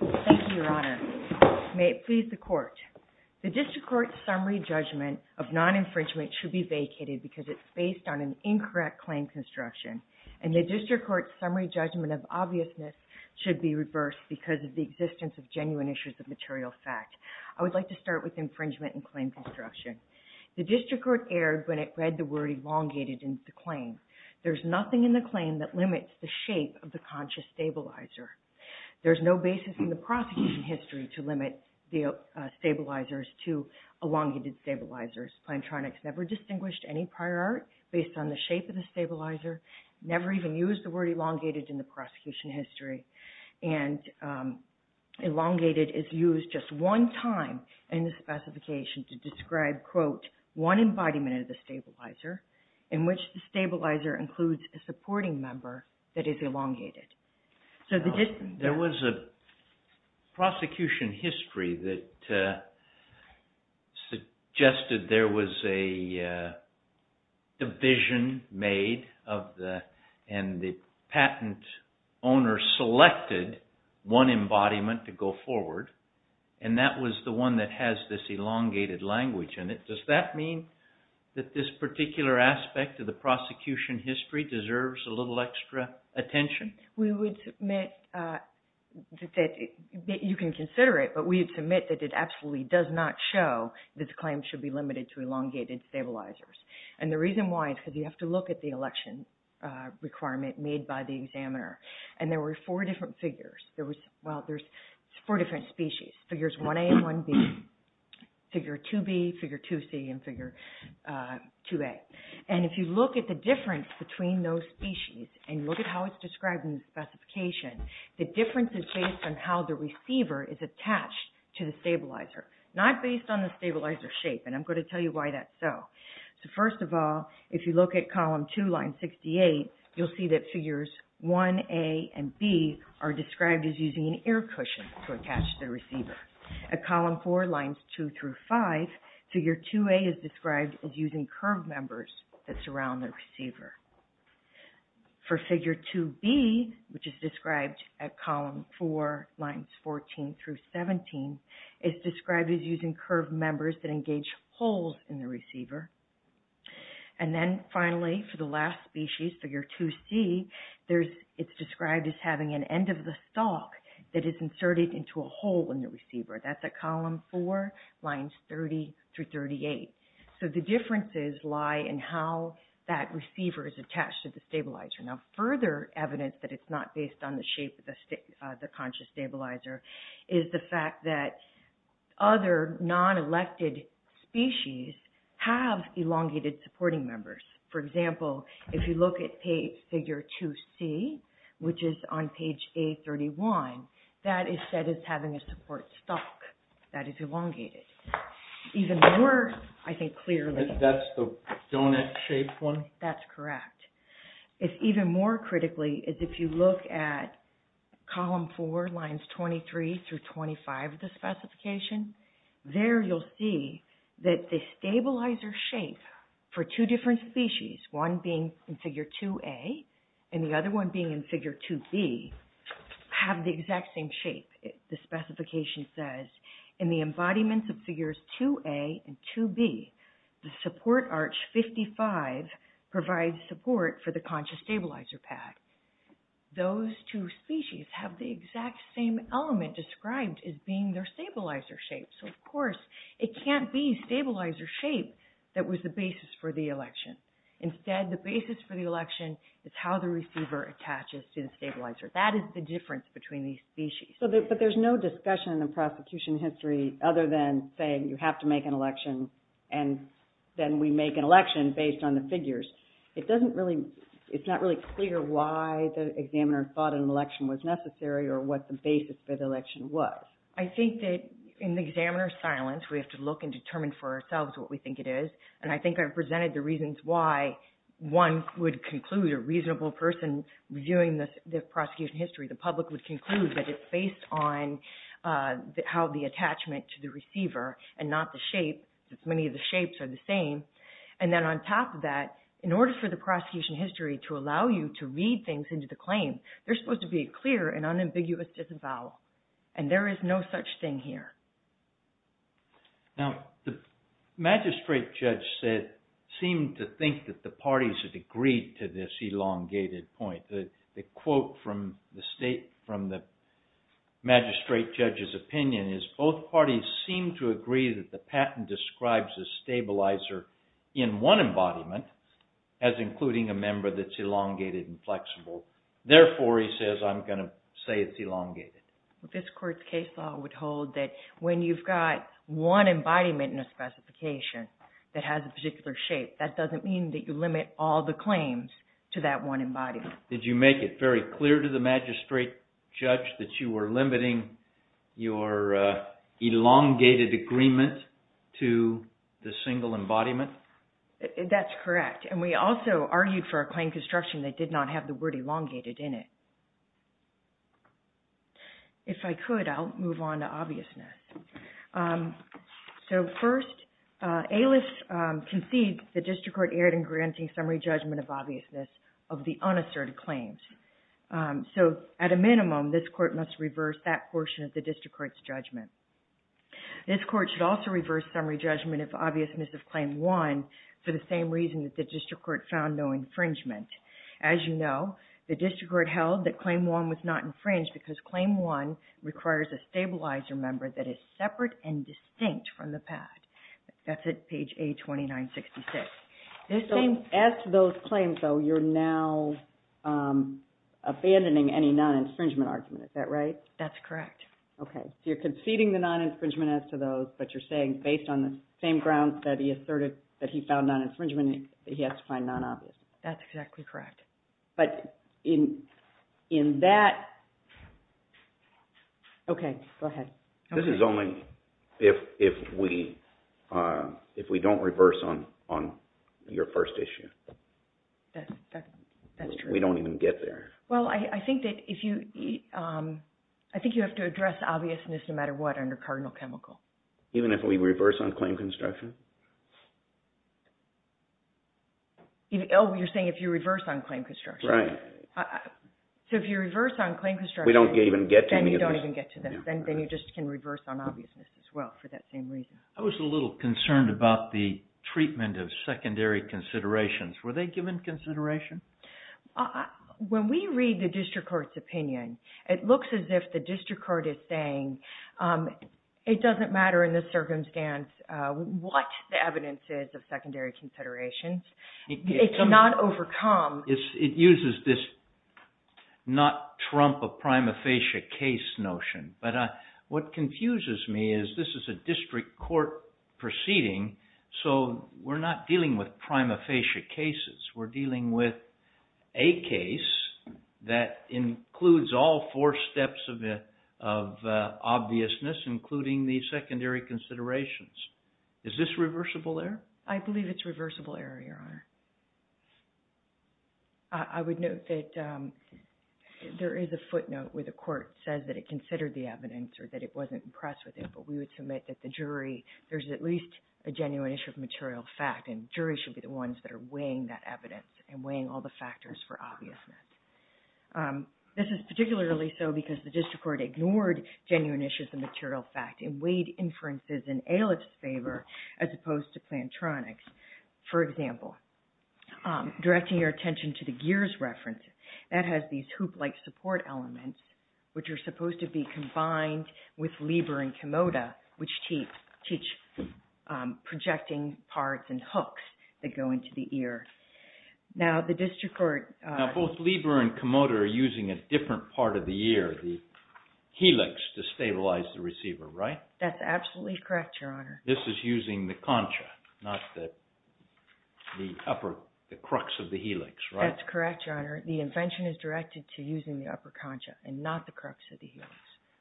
Thank you, Your Honor. May it please the Court. The District Court's summary judgment of non-infringement should be vacated because it is based on an incorrect claim construction. And the District Court's summary judgment of obviousness should be reversed because of the existence of genuine issues of material fact. I would like to start with infringement and claim construction. The District Court erred when it read the word elongated in the claim. There is nothing in the claim that limits the shape of the conscious stabilizer. There is no basis in the prosecution history to limit the stabilizers to elongated stabilizers. PLANTRONICS never distinguished any prior art based on the shape of the stabilizer, never even used the word elongated in the prosecution history. And elongated is used just one time in the specification to describe, quote, one embodiment of the stabilizer in which the stabilizer includes a supporting member that is elongated. There was a prosecution history that suggested there was a division made and the patent owner selected one embodiment to go forward, and that was the one that has this elongated language in it. Does that mean that this particular aspect of the prosecution history deserves a little extra attention? We would submit that you can consider it, but we would submit that it absolutely does not show that the claim should be limited to elongated stabilizers. And the reason why is because you have to look at the election requirement made by the examiner. And there were four different figures. Well, there's four different species, figures 1A and 1B, figure 2B, figure 2C, and figure 2A. And if you look at the difference between those species and look at how it's described in the specification, the difference is based on how the receiver is attached to the stabilizer, not based on the stabilizer shape. And I'm going to tell you why that's so. So first of all, if you look at column 2, line 68, you'll see that figures 1A and B are described as using an air cushion to attach the receiver. At column 4, lines 2 through 5, figure 2A is described as using curved members that surround the receiver. For figure 2B, which is described at column 4, lines 14 through 17, it's described as using curved members that engage holes in the receiver. And then finally, for the last species, figure 2C, it's described as having an end of the stalk that is inserted into a hole in the receiver. That's at column 4, lines 30 through 38. So the differences lie in how that receiver is attached to the stabilizer. Now, further evidence that it's not based on the shape of the conscious stabilizer is the fact that other non-elected species have elongated supporting members. For example, if you look at figure 2C, which is on page A31, that is said as having a support stalk that is elongated. Even more, I think, clearly... That's the donut-shaped one? That's correct. Even more critically, if you look at column 4, lines 23 through 25 of the specification, there you'll see that the stabilizer shape for two different species, one being in figure 2A and the other one being in figure 2B, have the exact same shape. The specification says, in the embodiments of figures 2A and 2B, the support arch 55 provides support for the conscious stabilizer pad. Those two species have the exact same element described as being their stabilizer shape. So, of course, it can't be stabilizer shape that was the basis for the election. Instead, the basis for the election is how the receiver attaches to the stabilizer. That is the difference between these species. But there's no discussion in the prosecution history other than saying you have to make an election and then we make an election based on the figures. It's not really clear why the examiner thought an election was necessary or what the basis for the election was. I think that in the examiner's silence, we have to look and determine for ourselves what we think it is. And I think I've presented the reasons why one would conclude a reasonable person reviewing the prosecution history, the public, would conclude that it's based on how the attachment to the receiver and not the shape. Many of the shapes are the same. And then on top of that, in order for the prosecution history to allow you to read things into the claim, they're supposed to be clear and unambiguous as a vowel. And there is no such thing here. Now, the magistrate judge seemed to think that the parties had agreed to this elongated point. The quote from the magistrate judge's opinion is both parties seem to agree that the patent describes a stabilizer in one embodiment as including a member that's elongated and flexible. Therefore, he says, I'm going to say it's elongated. This court's case law would hold that when you've got one embodiment in a specification that has a particular shape, that doesn't mean that you limit all the claims to that one embodiment. Did you make it very clear to the magistrate judge that you were limiting your elongated agreement to the single embodiment? That's correct. And we also argued for a claim construction that did not have the word elongated in it. If I could, I'll move on to obviousness. So, first, ALIS concedes the district court erred in granting summary judgment of obviousness of the unasserted claims. So, at a minimum, this court must reverse that portion of the district court's judgment. This court should also reverse summary judgment of obviousness of Claim 1 for the same reason that the district court found no infringement. As you know, the district court held that Claim 1 was not infringed because Claim 1 requires a stabilizer member that is separate and distinct from the past. That's at page A2966. As to those claims, though, you're now abandoning any non-infringement argument, is that right? That's correct. Okay. So, you're conceding the non-infringement as to those, but you're saying based on the same grounds that he asserted that he found non-infringement, he has to find non-obviousness. That's exactly correct. But in that, okay, go ahead. This is only if we don't reverse on your first issue. That's true. We don't even get there. Well, I think that if you, I think you have to address obviousness no matter what under cardinal chemical. Even if we reverse on claim construction? Oh, you're saying if you reverse on claim construction. Right. So, if you reverse on claim construction. We don't even get to any of this. Then you don't even get to that. Then you just can reverse on obviousness as well for that same reason. I was a little concerned about the treatment of secondary considerations. Were they given consideration? When we read the district court's opinion, it looks as if the district court is saying it doesn't matter in this circumstance what the evidence is of secondary considerations. It cannot overcome. It uses this not trump a prima facie case notion. But what confuses me is this is a district court proceeding, so we're not dealing with prima facie cases. We're dealing with a case that includes all four steps of obviousness, including the secondary considerations. Is this reversible error? I believe it's reversible error, Your Honor. I would note that there is a footnote where the court says that it considered the evidence or that it wasn't impressed with it. But we would submit that the jury, there's at least a genuine issue of material fact. And the jury should be the ones that are weighing that evidence and weighing all the factors for obviousness. This is particularly so because the district court ignored genuine issues of material fact and weighed inferences in Ailiff's favor as opposed to Plantronics. For example, directing your attention to the Gears reference, that has these hoop-like support elements, which are supposed to be combined with Lieber and Komoda, which teach projecting parts and hooks that go into the ear. Now both Lieber and Komoda are using a different part of the ear, the helix, to stabilize the receiver, right? That's absolutely correct, Your Honor. This is using the concha, not the upper, the crux of the helix, right? That's correct, Your Honor. The invention is directed to using the upper concha and not the crux of the helix,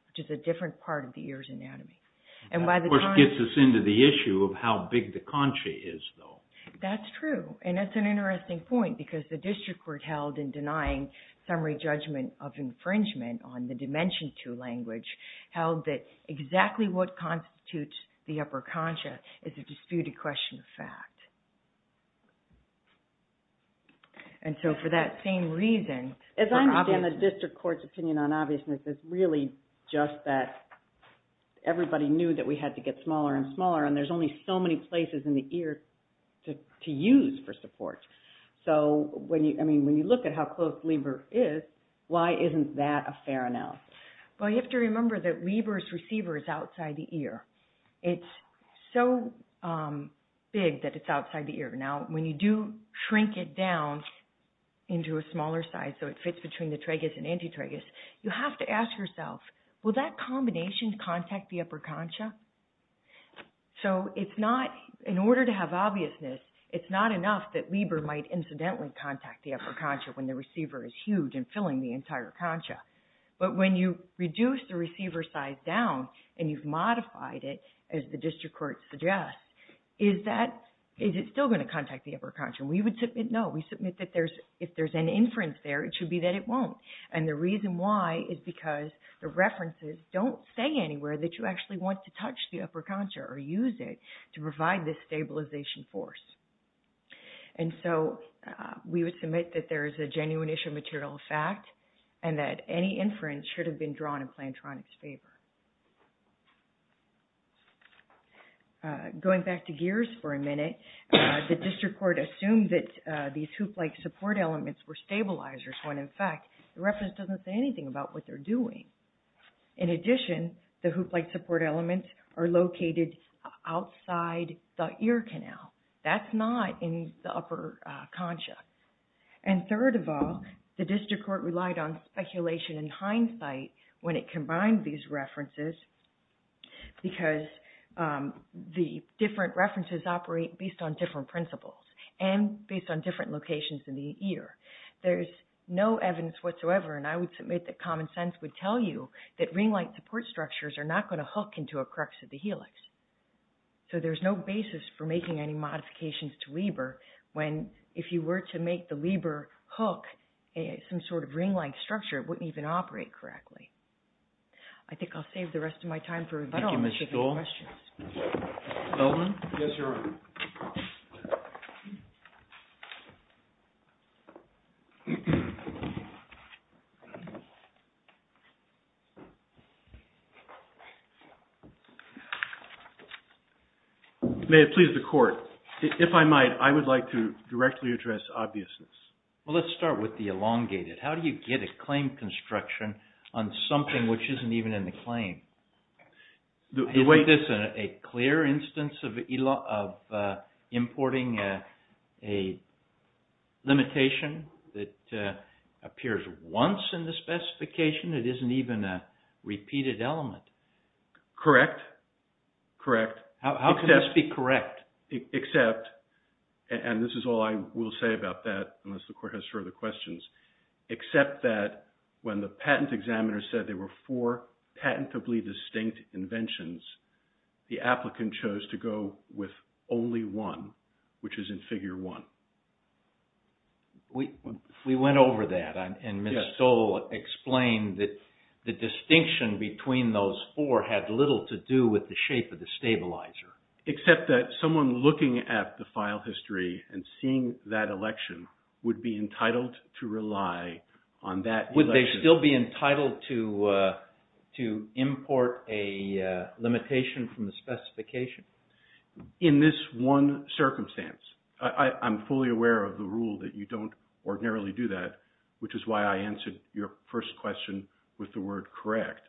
which is a different part of the ear's anatomy. That, of course, gets us into the issue of how big the concha is, though. That's true. And that's an interesting point because the district court held in denying summary judgment of infringement on the Dimension II language held that exactly what constitutes the upper concha is a disputed question of fact. And so for that same reason… As I understand it, the district court's opinion on obviousness is really just that everybody knew that we had to get smaller and smaller, and there's only so many places in the ear to use for support. So when you look at how close Lieber is, why isn't that a fair analysis? Well, you have to remember that Lieber's receiver is outside the ear. It's so big that it's outside the ear. Now, when you do shrink it down into a smaller size so it fits between the tragus and antitragus, you have to ask yourself, will that combination contact the upper concha? So in order to have obviousness, it's not enough that Lieber might incidentally contact the upper concha when the receiver is huge and filling the entire concha. But when you reduce the receiver size down and you've modified it, as the district court suggests, is it still going to contact the upper concha? We would submit no. We submit that if there's an inference there, it should be that it won't. And the reason why is because the references don't say anywhere that you actually want to touch the upper concha or use it to provide this stabilization force. And so we would submit that there is a genuine issue of material fact and that any inference should have been drawn in Plantronics' favor. Going back to Gears for a minute, the district court assumed that these hoop-like support elements were stabilizers when, in fact, the reference doesn't say anything about what they're doing. In addition, the hoop-like support elements are located outside the ear canal. That's not in the upper concha. And third of all, the district court relied on speculation and hindsight when it combined these references because the different references operate based on different principles and based on different locations in the ear. There's no evidence whatsoever, and I would submit that common sense would tell you that ring-like support structures are not going to hook into a crux of the helix. So there's no basis for making any modifications to Lieber when, if you were to make the Lieber hook some sort of ring-like structure, it wouldn't even operate correctly. I think I'll save the rest of my time for rebuttals if you have questions. Elvin? Yes, Your Honor. May it please the court. If I might, I would like to directly address obviousness. Well, let's start with the elongated. How do you get a claim construction on something which isn't even in the claim? Isn't this a clear instance of importing a limitation that appears once in the specification? It isn't even a repeated element. Correct. Correct. How can this be correct? Except, and this is all I will say about that unless the court has further questions, except that when the patent examiner said there were four patentably distinct inventions, the applicant chose to go with only one, which is in Figure 1. We went over that, and Ms. Stoll explained that the distinction between those four had little to do with the shape of the stabilizer. Except that someone looking at the file history and seeing that election would be entitled to rely on that. Would they still be entitled to import a limitation from the specification? In this one circumstance. I'm fully aware of the rule that you don't ordinarily do that, which is why I answered your first question with the word correct.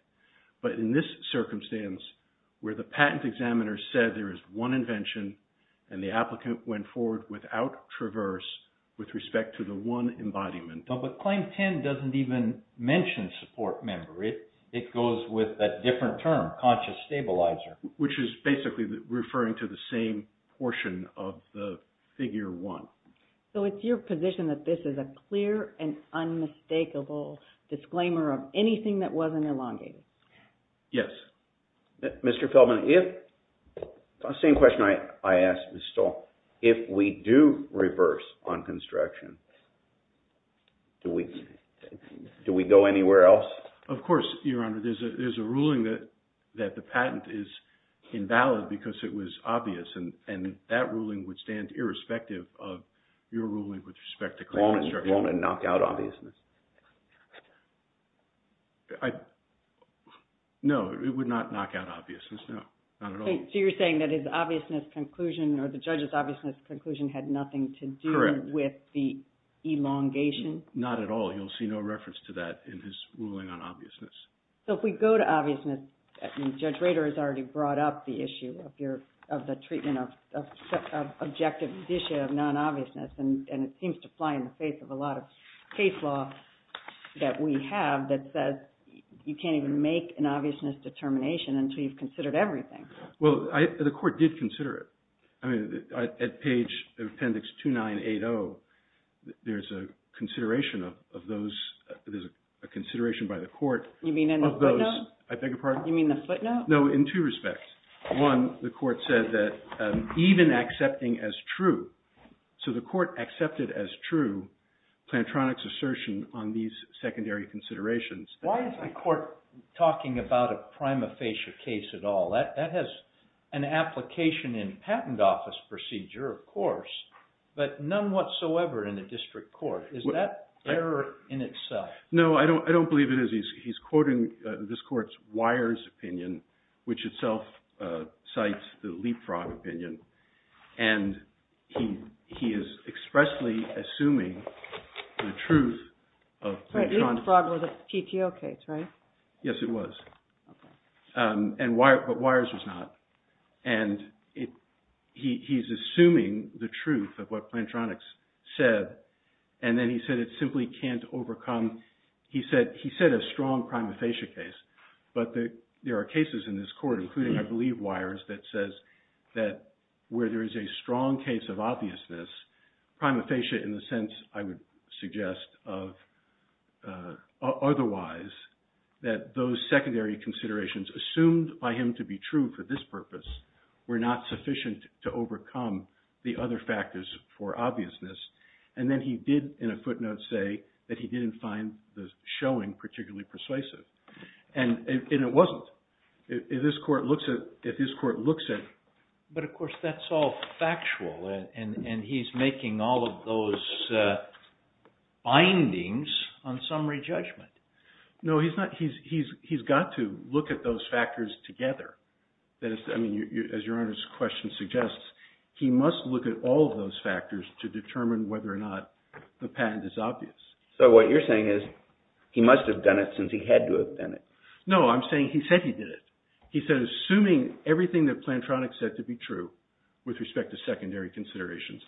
But in this circumstance, where the patent examiner said there is one invention, and the applicant went forward without traverse with respect to the one embodiment. But Claim 10 doesn't even mention support member. It goes with a different term, conscious stabilizer. Which is basically referring to the same portion of the Figure 1. So it's your position that this is a clear and unmistakable disclaimer of anything that wasn't elongated? Yes. Mr. Feldman, if, same question I asked Ms. Stoll, if we do reverse on construction, do we go anywhere else? Of course, Your Honor. There's a ruling that the patent is invalid because it was obvious. And that ruling would stand irrespective of your ruling with respect to claim construction. Won't it knock out obviousness? No, it would not knock out obviousness, no. Not at all. So you're saying that his obviousness conclusion or the judge's obviousness conclusion had nothing to do with the elongation? Not at all. You'll see no reference to that in his ruling on obviousness. So if we go to obviousness, Judge Rader has already brought up the issue of the treatment of objective addition of non-obviousness. And it seems to fly in the face of a lot of case law that we have that says you can't even make an obviousness determination until you've considered everything. Well, the court did consider it. I mean, at page appendix 2980, there's a consideration of those – there's a consideration by the court of those – You mean in the footnote? I beg your pardon? You mean the footnote? No, in two respects. One, the court said that even accepting as true – so the court accepted as true Plantronics' assertion on these secondary considerations. Why is the court talking about a prima facie case at all? That has an application in patent office procedure, of course, but none whatsoever in a district court. Is that error in itself? No, I don't believe it is. He's quoting this court's Weyers opinion, which itself cites the Leapfrog opinion, and he is expressly assuming the truth of Plantronics. Leapfrog was a PTO case, right? Yes, it was, but Weyers was not. And he's assuming the truth of what Plantronics said, and then he said it simply can't overcome – he said a strong prima facie case, but there are cases in this court, including, I believe, Weyers, that says that where there is a strong case of obviousness, prima facie in the sense I would suggest of otherwise, that those secondary considerations assumed by him to be true for this purpose were not sufficient to overcome the other factors for obviousness. And then he did, in a footnote, say that he didn't find the showing particularly persuasive, and it wasn't. If this court looks at – But, of course, that's all factual, and he's making all of those bindings on summary judgment. No, he's not. He's got to look at those factors together. I mean, as Your Honor's question suggests, he must look at all of those factors to determine whether or not the patent is obvious. So, what you're saying is he must have done it since he had to have done it. No, I'm saying he said he did it. He said, assuming everything that Plantronics said to be true with respect to secondary considerations,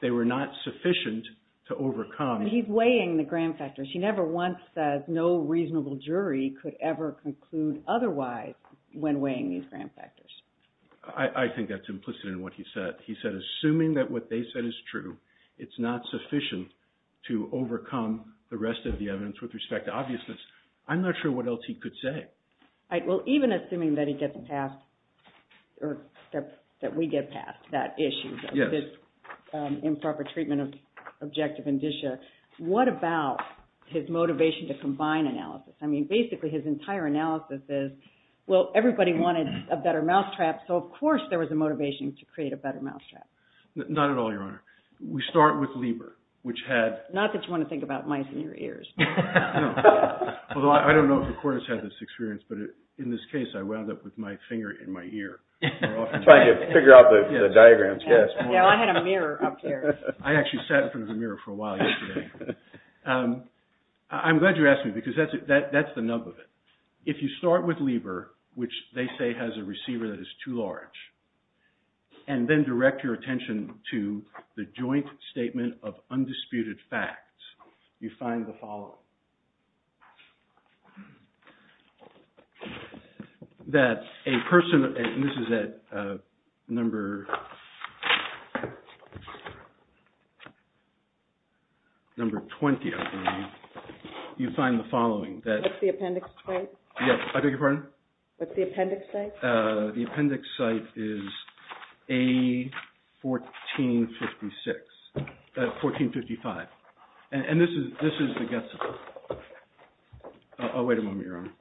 they were not sufficient to overcome – But he's weighing the gram factors. He never once says no reasonable jury could ever conclude otherwise when weighing these gram factors. I think that's implicit in what he said. He said, assuming that what they said is true, it's not sufficient to overcome the rest of the evidence with respect to obviousness. I'm not sure what else he could say. Well, even assuming that we get past that issue, this improper treatment of objective indicia, what about his motivation to combine analysis? I mean, basically, his entire analysis is, well, everybody wanted a better mousetrap, so of course there was a motivation to create a better mousetrap. Not at all, Your Honor. We start with Lieber, which had – Not that you want to think about mice in your ears. Although I don't know if the court has had this experience, but in this case, I wound up with my finger in my ear. Trying to figure out the diagrams, yes. I had a mirror up here. I actually sat in front of the mirror for a while yesterday. I'm glad you asked me, because that's the nub of it. If you start with Lieber, which they say has a receiver that is too large, and then direct your attention to the joint statement of undisputed facts, you find the following. What's the appendix site? I beg your pardon? What's the appendix site? The appendix site is A1455. And this is the guess. I'll wait a moment, Your Honor.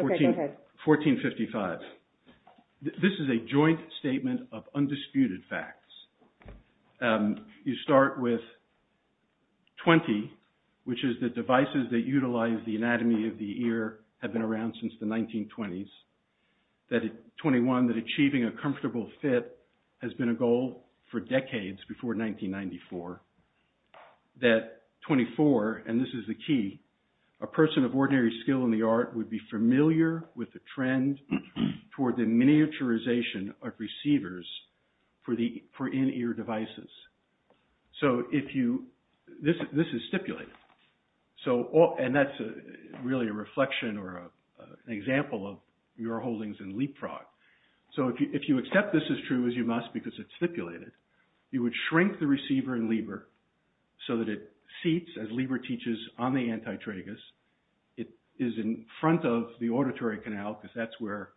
Okay, go ahead. A1455. This is a joint statement of undisputed facts. You start with 20, which is that devices that utilize the anatomy of the ear have been around since the 1920s. 21, that achieving a comfortable fit has been a goal for decades before 1994. That 24, and this is the key, a person of ordinary skill in the art would be familiar with the trend toward the miniaturization of receivers for in-ear devices. This is stipulated. And that's really a reflection or an example of your holdings in leapfrog. So if you accept this as true as you must because it's stipulated, you would shrink the receiver in Lieber so that it seats, as Lieber teaches, on the antitragus. It is in front of the auditory canal because that's where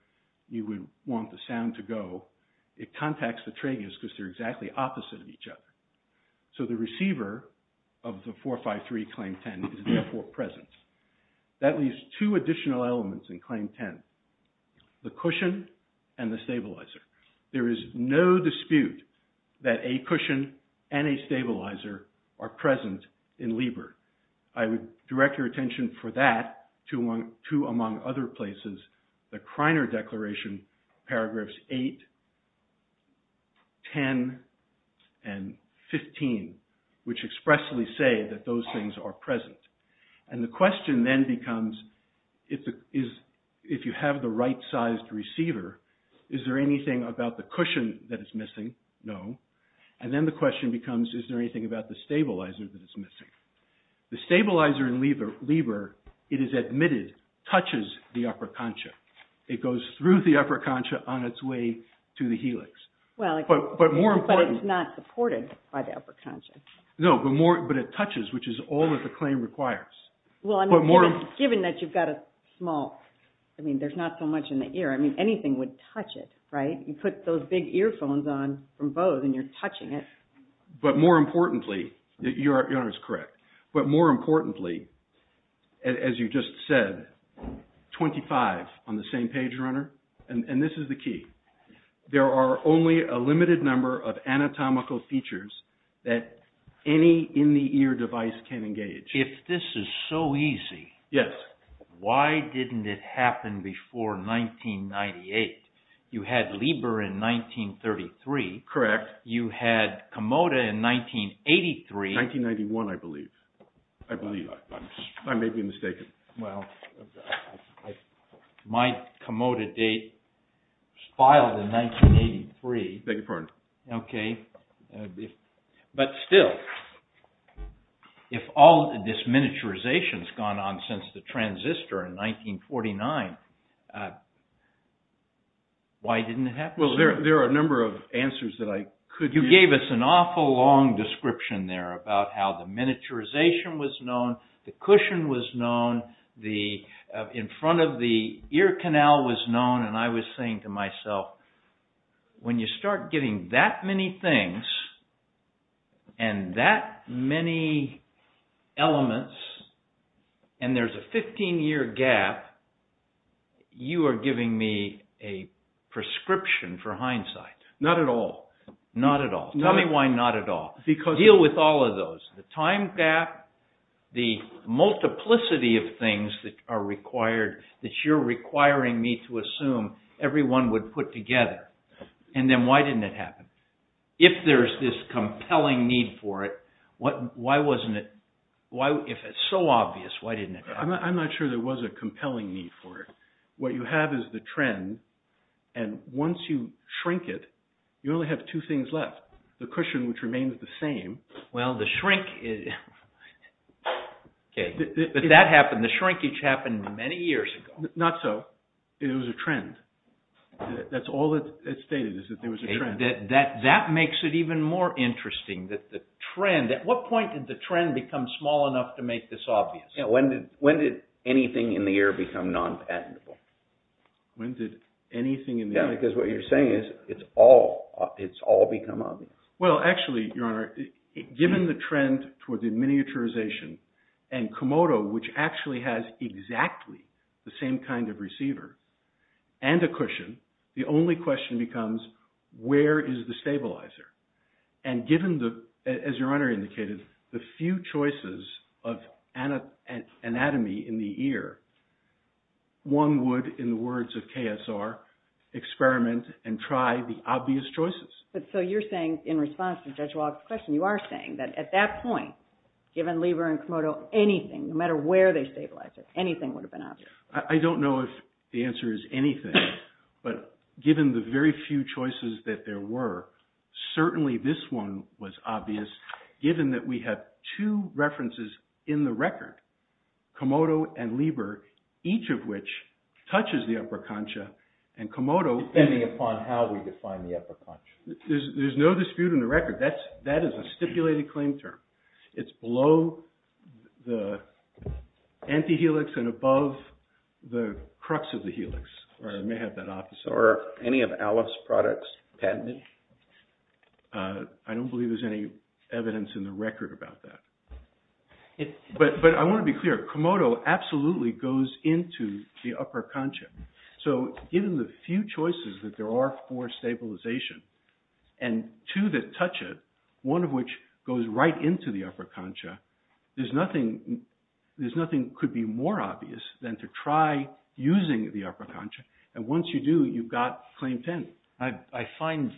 you would want the sound to go. It contacts the tragus because they're exactly opposite of each other. So the receiver of the 453 claim 10 is therefore present. That leaves two additional elements in claim 10. The cushion and the stabilizer. There is no dispute that a cushion and a stabilizer are present in Lieber. I would direct your attention for that to, among other places, the Kreiner Declaration, paragraphs 8, 10, and 15, which expressly say that those things are present. And the question then becomes, if you have the right-sized receiver, is there anything about the cushion that is missing? No. And then the question becomes, is there anything about the stabilizer that is missing? The stabilizer in Lieber, it is admitted, touches the upper concha. It goes through the upper concha on its way to the helix. But more importantly— But it's not supported by the upper concha. No, but it touches, which is all that the claim requires. Well, given that you've got a small—I mean, there's not so much in the ear. I mean, anything would touch it, right? You put those big earphones on from Bose and you're touching it. But more importantly—your honor is correct—but more importantly, as you just said, 25 on the same page, your honor, and this is the key. There are only a limited number of anatomical features that any in-the-ear device can engage. If this is so easy, why didn't it happen before 1998? You had Lieber in 1933. Correct. You had Komoda in 1983. 1991, I believe. I believe. I may be mistaken. Well, my Komoda date was filed in 1983. I beg your pardon. Okay. But still, if all this miniaturization has gone on since the transistor in 1949, why didn't it happen sooner? Well, there are a number of answers that I could— You gave us an awful long description there about how the miniaturization was known, the cushion was known, in front of the ear canal was known, and I was saying to myself, when you start getting that many things and that many elements and there's a 15-year gap, you are giving me a prescription for hindsight. Not at all. Not at all. Tell me why not at all. Because— Deal with all of those. The time gap, the multiplicity of things that are required, that you're requiring me to assume everyone would put together, and then why didn't it happen? If there's this compelling need for it, why wasn't it—if it's so obvious, why didn't it happen? I'm not sure there was a compelling need for it. What you have is the trend, and once you shrink it, you only have two things left. The cushion, which remains the same. Well, the shrinkage happened many years ago. Not so. It was a trend. That's all that's stated is that there was a trend. That makes it even more interesting that the trend—at what point did the trend become small enough to make this obvious? Yeah, when did anything in the air become non-patentable? When did anything in the air— Yeah, because what you're saying is it's all become obvious. Well, actually, Your Honor, given the trend toward the miniaturization and Komodo, which actually has exactly the same kind of receiver and a cushion, the only question becomes where is the stabilizer? And given, as Your Honor indicated, the few choices of anatomy in the ear, one would, in the words of KSR, experiment and try the obvious choices. So you're saying, in response to Judge Walk's question, you are saying that at that point, given Lieber and Komodo, anything, no matter where they stabilized it, anything would have been obvious. I don't know if the answer is anything. But given the very few choices that there were, certainly this one was obvious, given that we have two references in the record, Komodo and Lieber, each of which touches the upper concha, and Komodo— Depending upon how we define the upper concha. There's no dispute in the record. That is a stipulated claim term. It's below the antihelix and above the crux of the helix, or I may have that opposite. Are any of Aleph's products patented? I don't believe there's any evidence in the record about that. But I want to be clear. Komodo absolutely goes into the upper concha. So, given the few choices that there are for stabilization, and two that touch it, one of which goes right into the upper concha, there's nothing could be more obvious than to try using the upper concha, and once you do, you've got claim 10. I find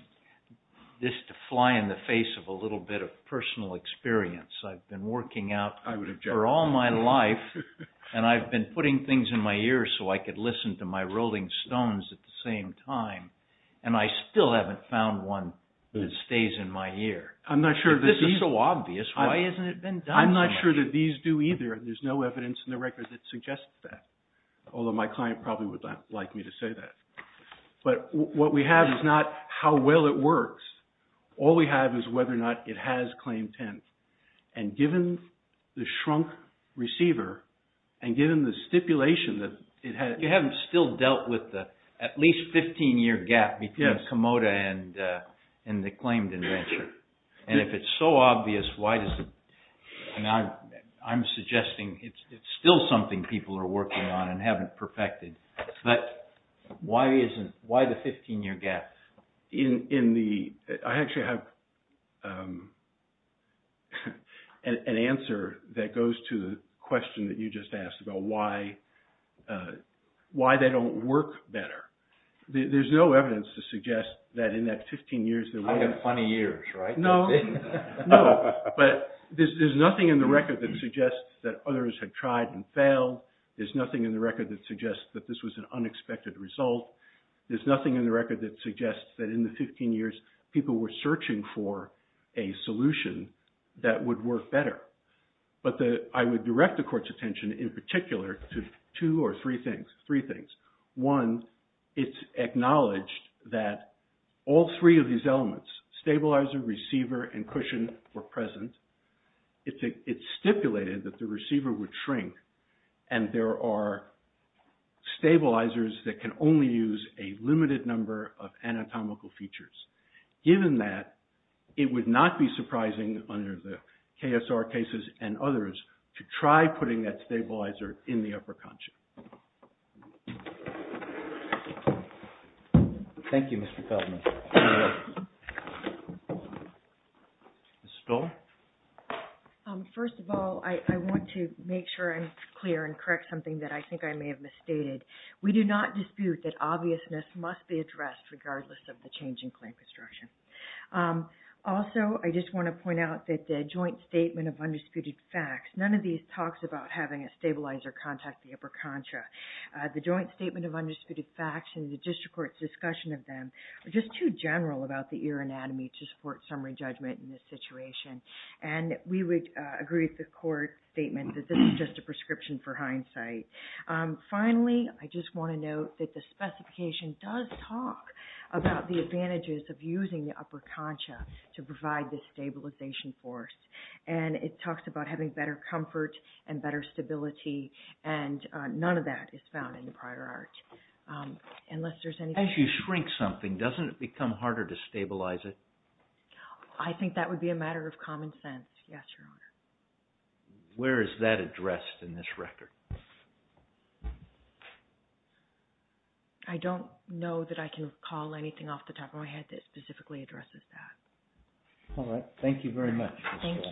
this to fly in the face of a little bit of personal experience. I've been working out for all my life, and I've been putting things in my ear so I could listen to my Rolling Stones at the same time, and I still haven't found one that stays in my ear. If this is so obvious, why hasn't it been done so much? I'm not sure that these do either, and there's no evidence in the record that suggests that, although my client probably would like me to say that. But what we have is not how well it works. All we have is whether or not it has claim 10. And given the shrunk receiver, and given the stipulation that it has... You haven't still dealt with the at least 15-year gap between Komodo and the claimed invention. And if it's so obvious, why doesn't... I'm suggesting it's still something people are working on and haven't perfected, but why the 15-year gap? I actually have an answer that goes to the question that you just asked about why they don't work better. There's no evidence to suggest that in that 15 years... I've got funny ears, right? No, but there's nothing in the record that suggests that others had tried and failed. There's nothing in the record that suggests that this was an unexpected result. There's nothing in the record that suggests that in the 15 years, people were searching for a solution that would work better. But I would direct the court's attention in particular to two or three things. One, it's acknowledged that all three of these elements, stabilizer, receiver, and cushion, were present. It's stipulated that the receiver would shrink, and there are stabilizers that can only use a limited number of anatomical features. Given that, it would not be surprising under the KSR cases and others to try putting that stabilizer in the upper concha. Thank you, Mr. Feldman. You're welcome. Ms. Stoll? First of all, I want to make sure I'm clear and correct something that I think I may have misstated. We do not dispute that obviousness must be addressed regardless of the change in claim construction. Also, I just want to point out that the joint statement of undisputed facts, none of these talks about having a stabilizer contact the upper concha. The joint statement of undisputed facts and the district court's discussion of them are just too general about the ear anatomy to support summary judgment in this situation. And we would agree with the court statement that this is just a prescription for hindsight. Finally, I just want to note that the specification does talk about the advantages of using the upper concha to provide the stabilization force. And it talks about having better comfort and better stability, and none of that is found in the prior art. As you shrink something, doesn't it become harder to stabilize it? I think that would be a matter of common sense, yes, Your Honor. Where is that addressed in this record? I don't know that I can recall anything off the top of my head that specifically addresses that. All right, thank you very much. Thank you.